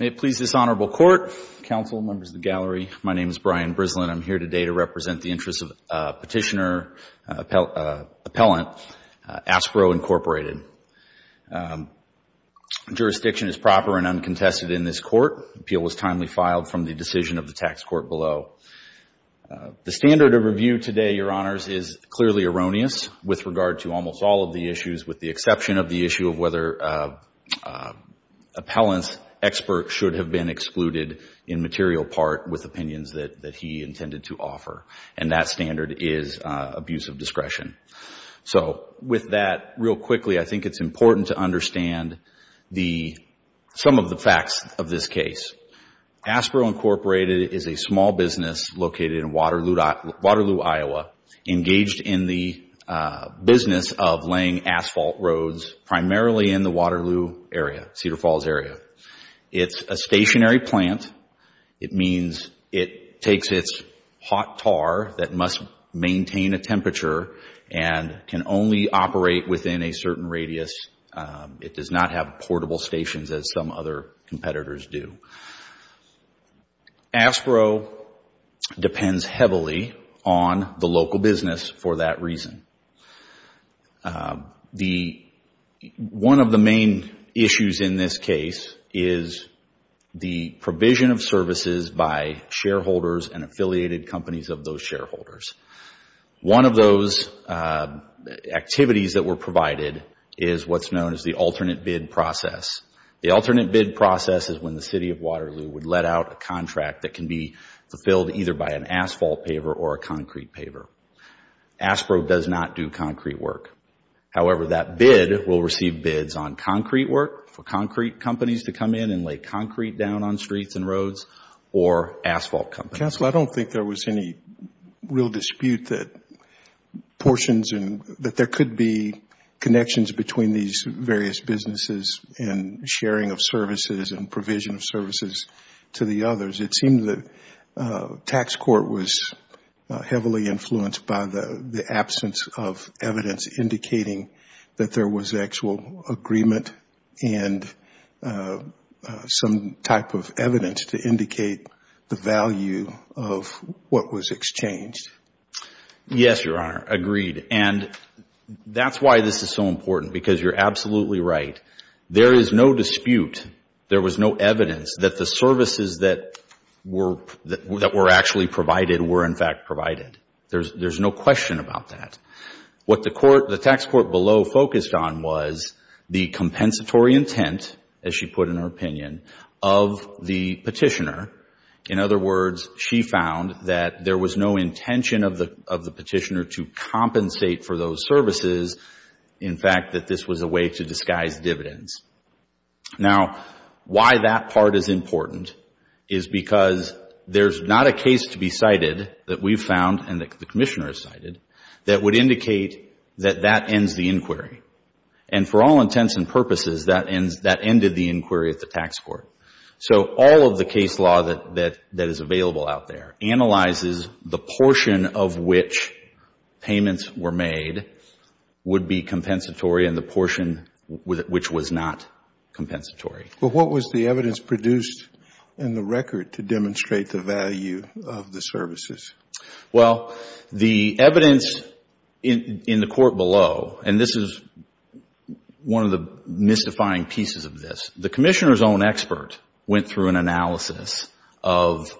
May it please this Honorable Court, Counsel, Members of the Gallery, my name is Brian Brislin. I'm here today to represent the interests of Petitioner Appellant, Aspro, Inc. Jurisdiction is proper and uncontested in this Court. Appeal was timely filed from the decision of the Tax Court below. The standard of review today, Your Honors, is clearly erroneous with regard to almost all of the issues with the exception of the issue of whether appellant's expert should have been excluded in material part with opinions that he intended to offer. And that standard is abuse of discretion. So with that, real quickly, I think it's important to understand some of the facts of this case. Aspro, Inc. is a small business located in Waterloo, Iowa, engaged in the business of laying asphalt roads primarily in the Waterloo area, Cedar Falls area. It's a stationary plant. It means it takes its hot tar that must maintain a temperature and can only operate within a certain radius. It does not have portable stations as some other competitors do. Aspro depends heavily on the local business for that reason. One of the main issues in this case is the provision of services by shareholders and affiliated companies of those shareholders. One of those activities that were provided is what's known as the alternate bid process. The alternate bid process is when the City of Waterloo would let out a contract that can be fulfilled either by an asphalt paver or a concrete paver. Aspro does not do concrete work. However, that bid will receive bids on concrete work for concrete companies to come in and lay concrete down on streets and roads or asphalt companies. Counsel, I don't think there was any real dispute that there could be connections between these various businesses and sharing of services and provision of services to the others. It seems the tax court was heavily influenced by the absence of evidence indicating that of what was exchanged. Yes, Your Honor, agreed. That's why this is so important because you're absolutely right. There is no dispute, there was no evidence that the services that were actually provided were in fact provided. There's no question about that. What the tax court below focused on was the compensatory intent, as she put in her opinion, of the petitioner. In other words, she found that there was no intention of the petitioner to compensate for those services. In fact, that this was a way to disguise dividends. Now, why that part is important is because there's not a case to be cited that we've found and that the Commissioner has cited that would indicate that that ends the inquiry. For all intents and purposes, that ended the inquiry at the tax court. So all of the case law that is available out there analyzes the portion of which payments were made would be compensatory and the portion which was not compensatory. What was the evidence produced in the record to demonstrate the value of the services? Well, the evidence in the court below, and this is one of the mystifying pieces of this, the Commissioner's own expert went through an analysis of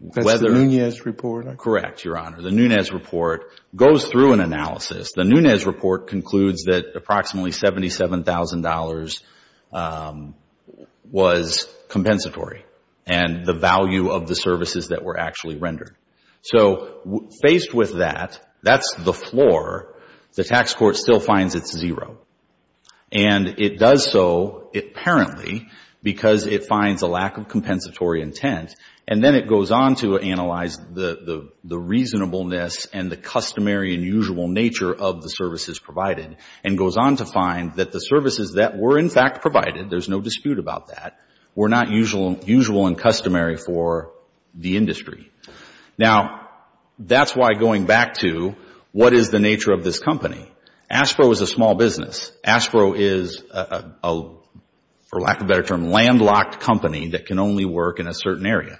whether That's the Nunez report? Correct, Your Honor. The Nunez report goes through an analysis. The Nunez report concludes that approximately $77,000 was compensatory and the value of the services that were actually rendered. So faced with that, that's the floor, the tax court still finds it's zero. And it does so apparently because it finds a lack of compensatory intent and then it goes on to analyze the reasonableness and the customary and usual nature of the services provided and goes on to find that the services that were in fact provided, there's no dispute about that, were not usual and customary for the industry. Now, that's why going back to what is the nature of this company? ASPRO is a small business. ASPRO is a, for lack of a better term, landlocked company that can only work in a certain area.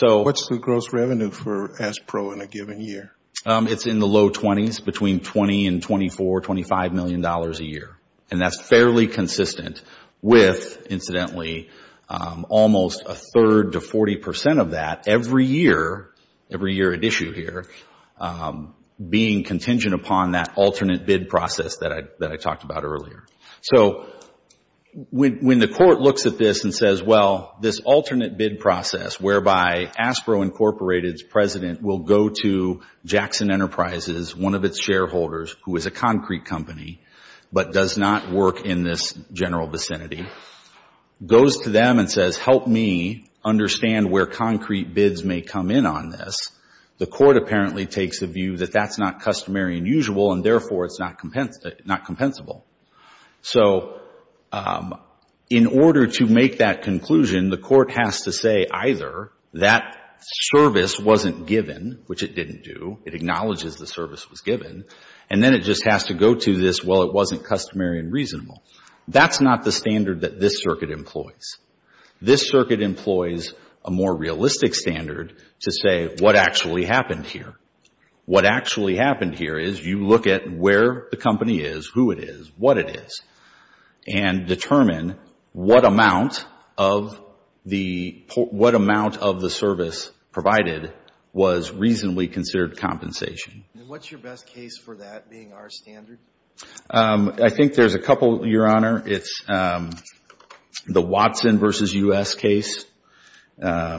What's the gross revenue for ASPRO in a given year? It's in the low 20s, between $20 and $24, $25 million a year. And that's fairly consistent with, incidentally, almost a third to 40% of that every year, every year at issue here, being contingent upon that alternate bid process that I talked about earlier. So when the court looks at this and says, well, this alternate bid process, whereby ASPRO Incorporated's president will go to Jackson Enterprises, one of its shareholders, who is a concrete company, but does not work in this general vicinity, goes to them and says, help me understand where concrete bids may come in on this, the court apparently takes a view that that's not customary and usual, and therefore it's not compensable. So in order to make that conclusion, the court has to say either that service wasn't given, which it didn't do, it acknowledges the service was given, and then it just has to go to this, well, it wasn't customary and reasonable. That's not the standard that this circuit employs. This circuit employs a more realistic standard to say what actually happened here. What actually happened here is you look at where the company is, who it is, what it is, and determine what amount of the service provided was reasonably considered compensation. And what's your best case for that being our standard? I think there's a couple, Your Honor. It's the Watson v. U.S. case, that's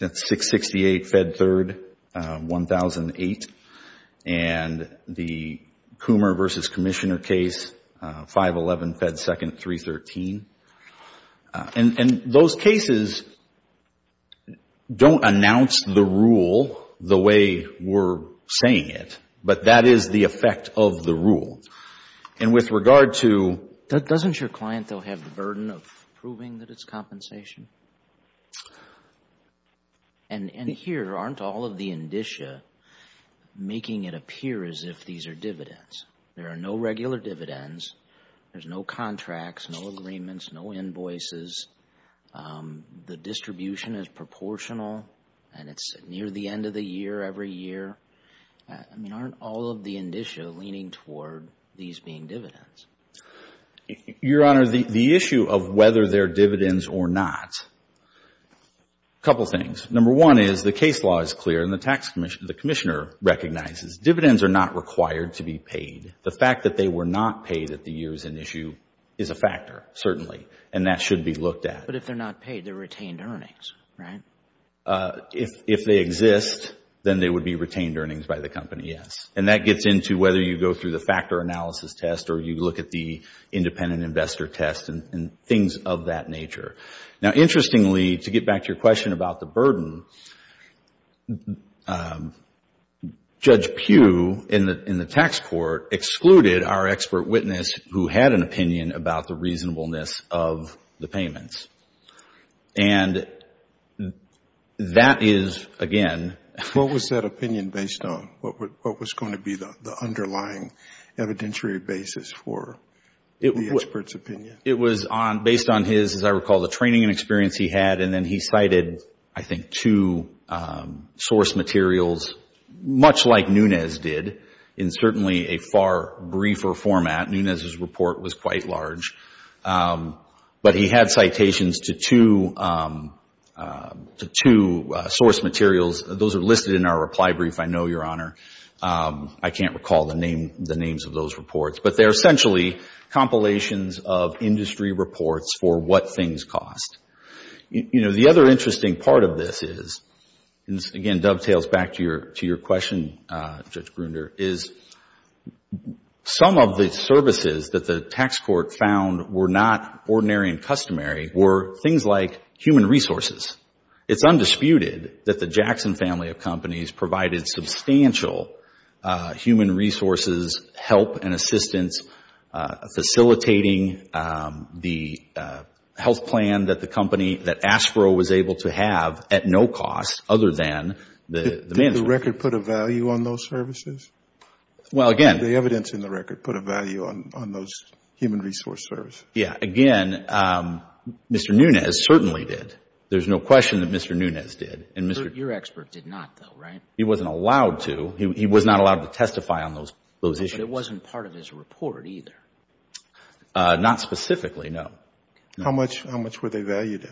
668 Fed 3rd, 1008. And the Coomer v. Commissioner case, 511 Fed 2nd, 313. And those cases don't announce the rule the way we're saying it, but that is the effect of the rule. And with regard to... Doesn't your client, though, have the burden of proving that it's compensation? And here, aren't all of the indicia making it appear as if these are dividends? There are no regular dividends. There's no contracts, no agreements, no invoices. The distribution is proportional, and it's near the end of the year, every year. I mean, aren't all of the indicia leaning toward these being dividends? Your Honor, the issue of whether they're dividends or not, a couple things. Number one is the case law is clear, and the tax commissioner, the commissioner recognizes. Dividends are not required to be paid. The fact that they were not paid at the years in issue is a factor, certainly, and that should be looked at. But if they're not paid, they're retained earnings, right? If they exist, then they would be retained earnings by the company, yes. And that gets into whether you go through the factor analysis test or you look at the independent investor test and things of that nature. Now, interestingly, to get back to your question about the burden, Judge Pugh in the tax court excluded our expert witness who had an opinion about the reasonableness of the payments. And that is, again... What was that opinion based on? What was going to be the underlying evidentiary basis for the expert's opinion? It was based on his, as I recall, the training and experience he had, and then he cited, I think, two source materials, much like Nunes did, in certainly a far briefer format. Nunes' report was quite large. But he had citations to two source materials. Those are listed in our reply brief, I know, Your Honor. I can't recall the names of those reports. But they're essentially compilations of industry reports for what things cost. You know, the other interesting part of this is, and this, again, dovetails back to your question, Judge Gruender, is some of the services that the tax court found were not ordinary and customary were things like human resources. It's undisputed that the Jackson family of companies provided substantial human resources, help and assistance, facilitating the health plan that the company, that ASPRO was able to have at no cost other than the management. Did the record put a value on those services? Well, again. Did the evidence in the record put a value on those human resource services? Yeah. Again, Mr. Nunes certainly did. There's no question that Mr. Nunes did. Your expert did not, though, right? He wasn't allowed to. He was not allowed to testify on those issues. But it wasn't part of his report either? Not specifically, no. How much were they valued at?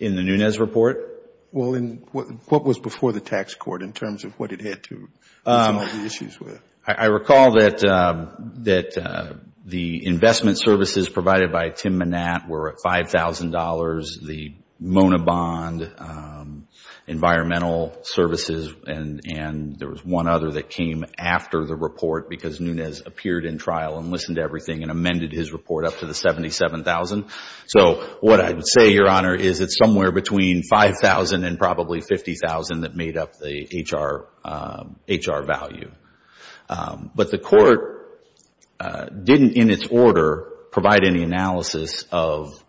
In the Nunes report? Well, what was before the tax court in terms of what it had to do with some of the issues? I recall that the investment services provided by Tim Manat were at $5,000. The Mona Bond environmental services, and there was one other that came after the report because Nunes appeared in trial and listened to everything and amended his report up to the $77,000. So what I would say, Your Honor, is it's somewhere between $5,000 and probably $50,000 that made up the HR value. But the court didn't, in its order, provide any analysis of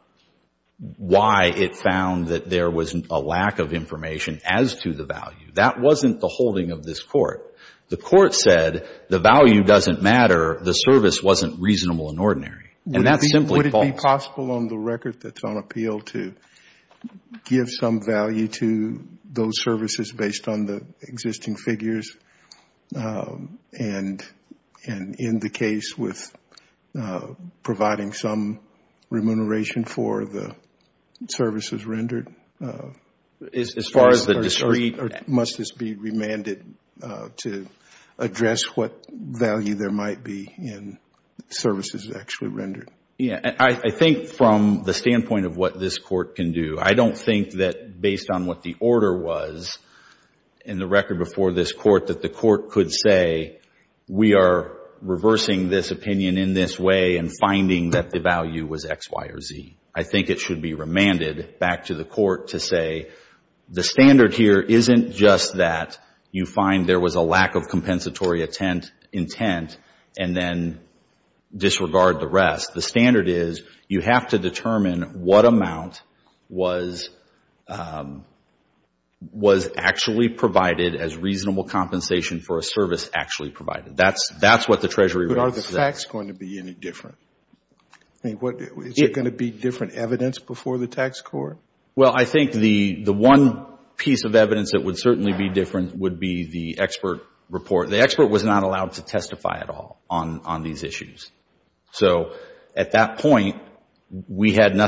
why it found that there was a lack of information as to the value. That wasn't the holding of this court. The court said the value doesn't matter. The service wasn't reasonable and ordinary. Would it be possible on the record that's on appeal to give some value to those services based on the existing figures and in the case with providing some remuneration for the services rendered? As far as the district? Must this be remanded to address what value there might be in services actually rendered? I think from the standpoint of what this court can do, I don't think that based on what the order was in the record before this court that the court could say, we are reversing this opinion in this way and finding that the value was X, Y, or Z. I think it should be remanded back to the court to say, the standard here isn't just that you find there was a lack of compensatory intent and then disregard the rest. The standard is you have to determine what amount was actually provided as reasonable compensation for a service actually provided. That's what the treasury rate says. But are the facts going to be any different? Is there going to be different evidence before the tax court? Well, I think the one piece of evidence that would certainly be different would be the expert report. The expert was not allowed to testify at all on these issues. So at that point, we couldn't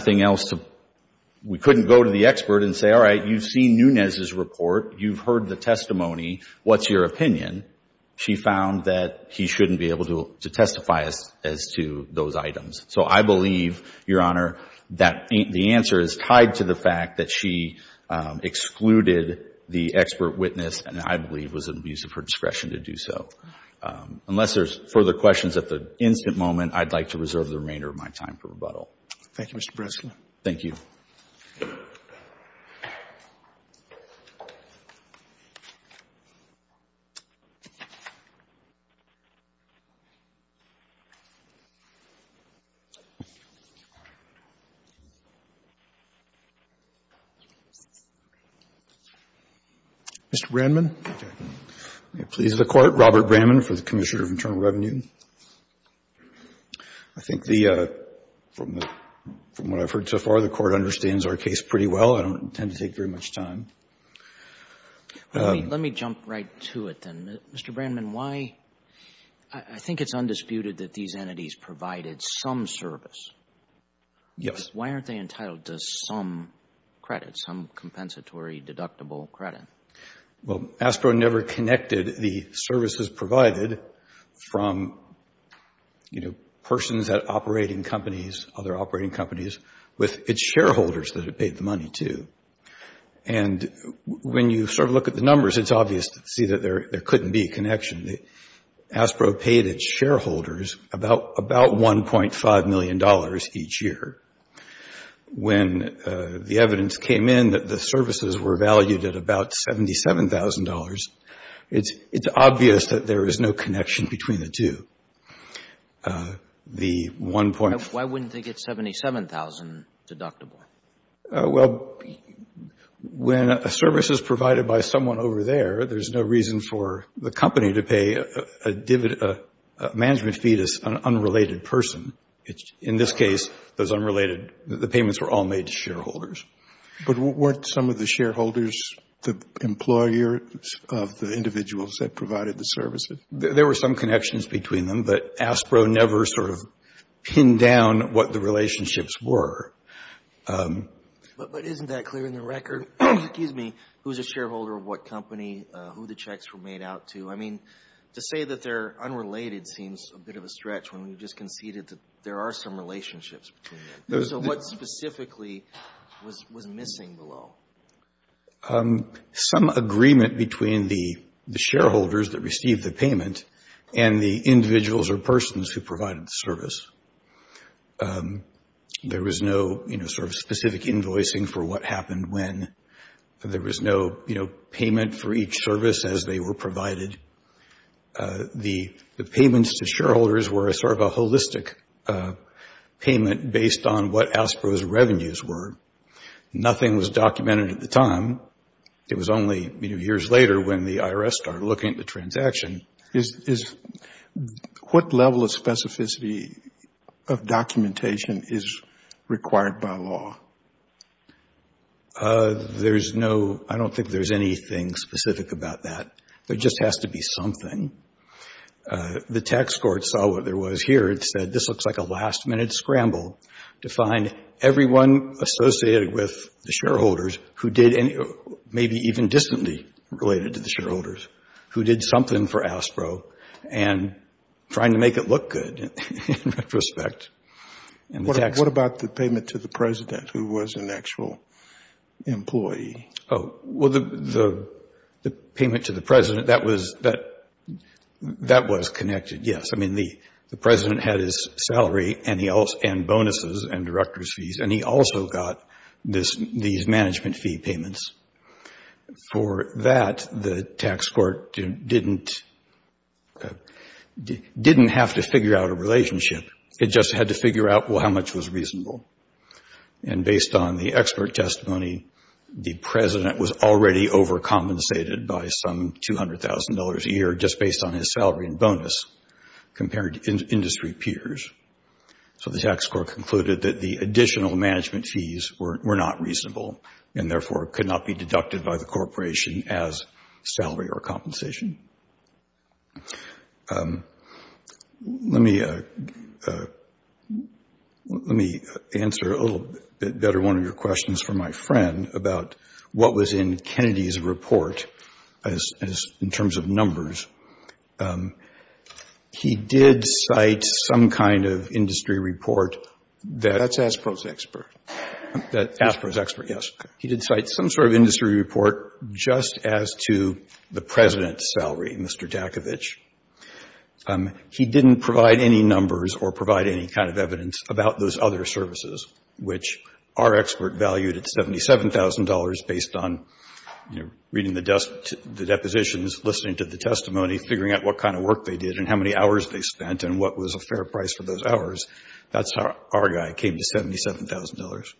go to the expert and say, all right, you've seen Nunez's report. You've heard the testimony. What's your opinion? She found that he shouldn't be able to testify as to those items. So I believe, Your Honor, that the answer is tied to the fact that she excluded the expert witness and I believe was an abuse of her discretion to do so. Unless there's further questions at the instant moment, I'd like to reserve the remainder of my time for rebuttal. Thank you, Mr. Breslin. Thank you. Mr. Brandman, please, the court. Robert Brandman for the Commissioner of Internal Revenue. I think the, from what I've heard so far, the court understands our case pretty well. I don't intend to take very much time. Let me jump right to it then. Mr. Brandman, why? I think it's undisputed that these entities provided some service. Yes. Why aren't they entitled to some credit, some compensatory deductible credit? Well, ASPRO never connected the services provided from, you know, persons at operating companies, other operating companies, with its shareholders that it paid the money to. And when you sort of look at the numbers, it's obvious to see that there couldn't be a connection. ASPRO paid its shareholders about $1.5 million each year. When the evidence came in that the services were valued at about $77,000, it's obvious that there is no connection between the two. The 1.5 Why wouldn't they get $77,000 deductible? Well, when a service is provided by someone over there, there's no reason for the company to pay a management fee to an unrelated person. In this case, those unrelated, the payments were all made to shareholders. But weren't some of the shareholders the employers of the individuals that provided the services? There were some connections between them, but But isn't that clear in the record? Excuse me. Who's a shareholder of what company? Who the checks were made out to? I mean, to say that they're unrelated seems a bit of a stretch when we just conceded that there are some relationships between them. So what specifically was missing below? Some agreement between the shareholders that received the payment and the individuals or persons who provided the service. There was no, you know, sort of specific invoicing for what happened when. There was no, you know, payment for each service as they were provided. The payments to shareholders were sort of a holistic payment based on what ASPRO's revenues were. Nothing was documented at the time. It was only, you know, years later when the IRS started looking at the transaction. What level of specificity of documentation is required by law? There's no, I don't think there's anything specific about that. There just has to be something. The tax court saw what there was here. It said this looks like a last minute scramble to find everyone associated with the shareholders who did any, maybe even distantly related to the ASPRO and trying to make it look good in retrospect. What about the payment to the president who was an actual employee? Oh, well, the payment to the president, that was connected, yes. I mean, the president had his salary and bonuses and director's fees and he also got these management fee payments. For that, the tax court didn't have to figure out a relationship. It just had to figure out, well, how much was reasonable. And based on the expert testimony, the president was already overcompensated by some $200,000 a year just based on his salary and bonus compared to industry peers. So the tax court concluded that the additional management fees were not reasonable and therefore could not be deducted by the corporation as salary or compensation. Let me answer a little bit better one of your questions for my friend about what was in Kennedy's report as in terms of numbers. He did cite some kind of industry report that- That's ASPRO's expert. That ASPRO's expert, yes. He did cite some sort of industry report just as to the president's salary, Mr. Dakovich. He didn't provide any numbers or provide any kind of evidence about those other services, which our expert valued at $77,000 based on reading the depositions, listening to the testimony, figuring out what kind of work they did and how many hours they spent and what was a fair price for those hours. That's how our guy came to $77,000.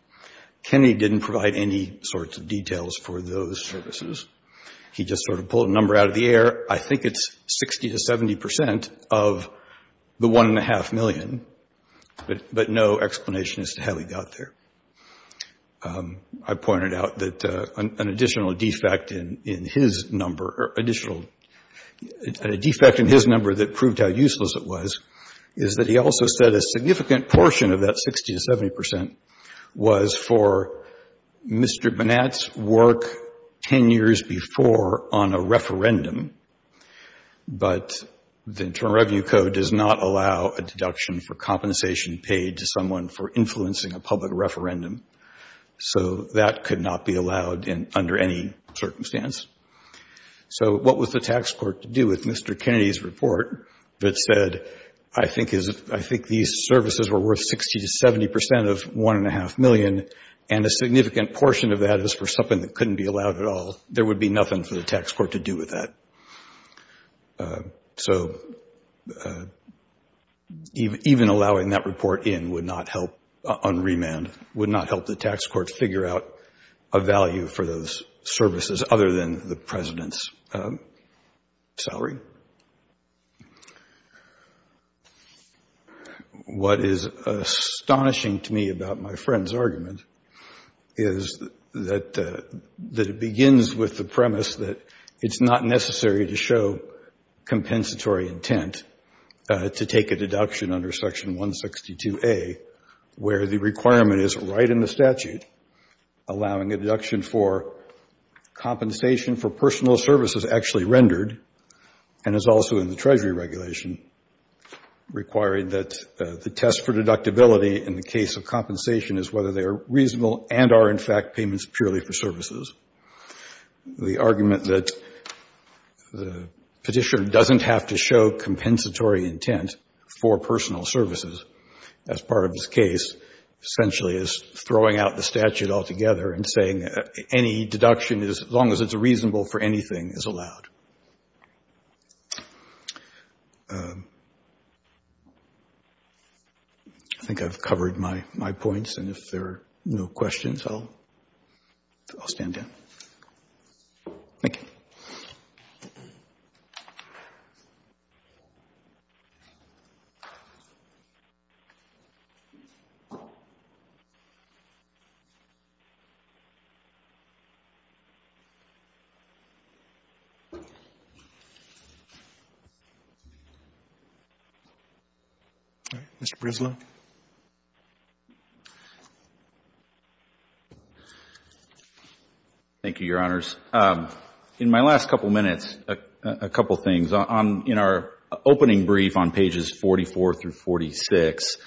Kennedy didn't provide any sorts of details for those services. He just sort of pulled a number out of the air. I think it's 60 to 70% of the 1.5 million, but no explanation as to how he got there. I pointed out that an additional defect in his number that proved how useless it was is that he also said a significant portion of that 60 to 70% was for Mr. Bonat's work 10 years before on a referendum, but the Internal Revenue Code does not allow a deduction for compensation paid to someone for influencing a public referendum. That could not be allowed under any circumstance. What was the tax court to do with Mr. Kennedy's report that said, I think these services were worth 60 to 70% of 1.5 million and a significant portion of that is for something that couldn't be allowed at all? There would be nothing for the tax court to do with that. Even allowing that report in would not help on remand, would not help the tax court figure out a value for those services other than the President's salary. What is astonishing to me about my friend's argument is that it begins with the premise that it's not necessary to show compensatory intent to take a deduction under Section 162A where the requirement is right in the statute allowing a deduction for compensation for personal services actually rendered and is also in the Treasury regulation requiring that the test for deductibility in the case of compensation is whether they are reasonable and are in fact payments purely for services. The argument that the petitioner doesn't have to show compensatory intent for personal services as part of his case essentially is throwing out the statute altogether and saying any deduction, as long as it's reasonable for anything, is allowed. I think I've covered my points and if there are no questions, I'll stand down. Thank you. All right, Mr. Breslau. Thank you, Your Honors. In my last couple of minutes, a couple of things. In our opening brief on pages 44 through 46,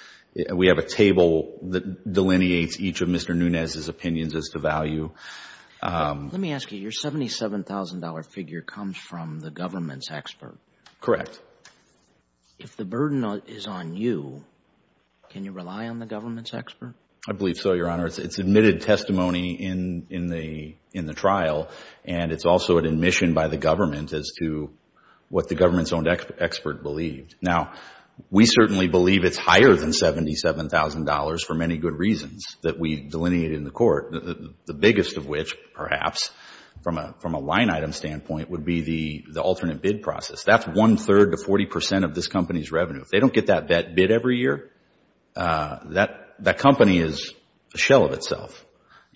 we have a table that delineates each of Mr. Nunez's opinions as to value. Let me ask you, your $77,000 figure comes from the government's expert. Correct. If the burden is on you, can you rely on the government's expert? I believe so, Your Honor. It's admitted testimony in the trial and it's also an admission by the government as to what the government's own expert believed. Now, we certainly believe it's higher than $77,000 for many good reasons that we delineated in the court, the biggest of which, perhaps, from a line item standpoint, would be the alternate bid process. That's one-third to 40% of this company's revenue. If they don't get that bid every year, that company is a shell of itself.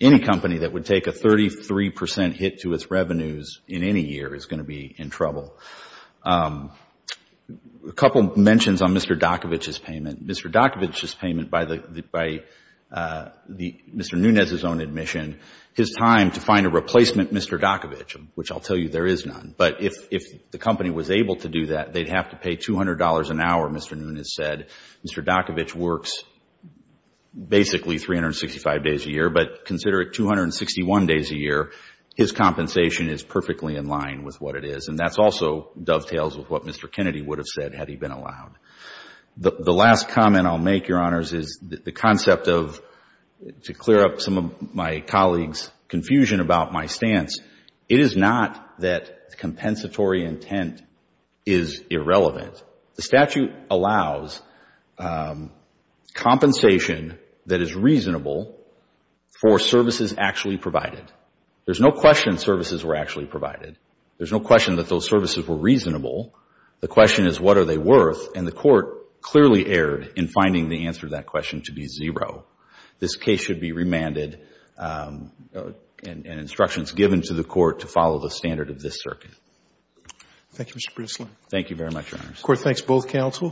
Any company that would take a 33% hit to its revenues in any year is going to be in trouble. A couple of mentions on Mr. Dokovich's payment. Mr. Dokovich's payment by Mr. Nunez's own admission, his time to find a replacement Mr. Dokovich, which I'll tell you there is none. But if the company was able to do that, they'd have to pay $200 an hour, Mr. Nunez said. Mr. Dokovich works basically 365 days a year, but consider it 261 days a year. His compensation is perfectly in line with what it is, and that also dovetails with what Mr. Kennedy would have said had he been allowed. The last comment I'll make, Your Honors, is the concept of, to clear up some of my stance, it is not that compensatory intent is irrelevant. The statute allows compensation that is reasonable for services actually provided. There's no question services were actually provided. There's no question that those services were reasonable. The question is what are they worth, and the Court clearly erred in finding the answer to that question to be zero. This case should be remanded and instructions given to the Court to follow the standard of this circuit. Thank you, Mr. Breslin. Thank you very much, Your Honors. The Court thanks both counsel.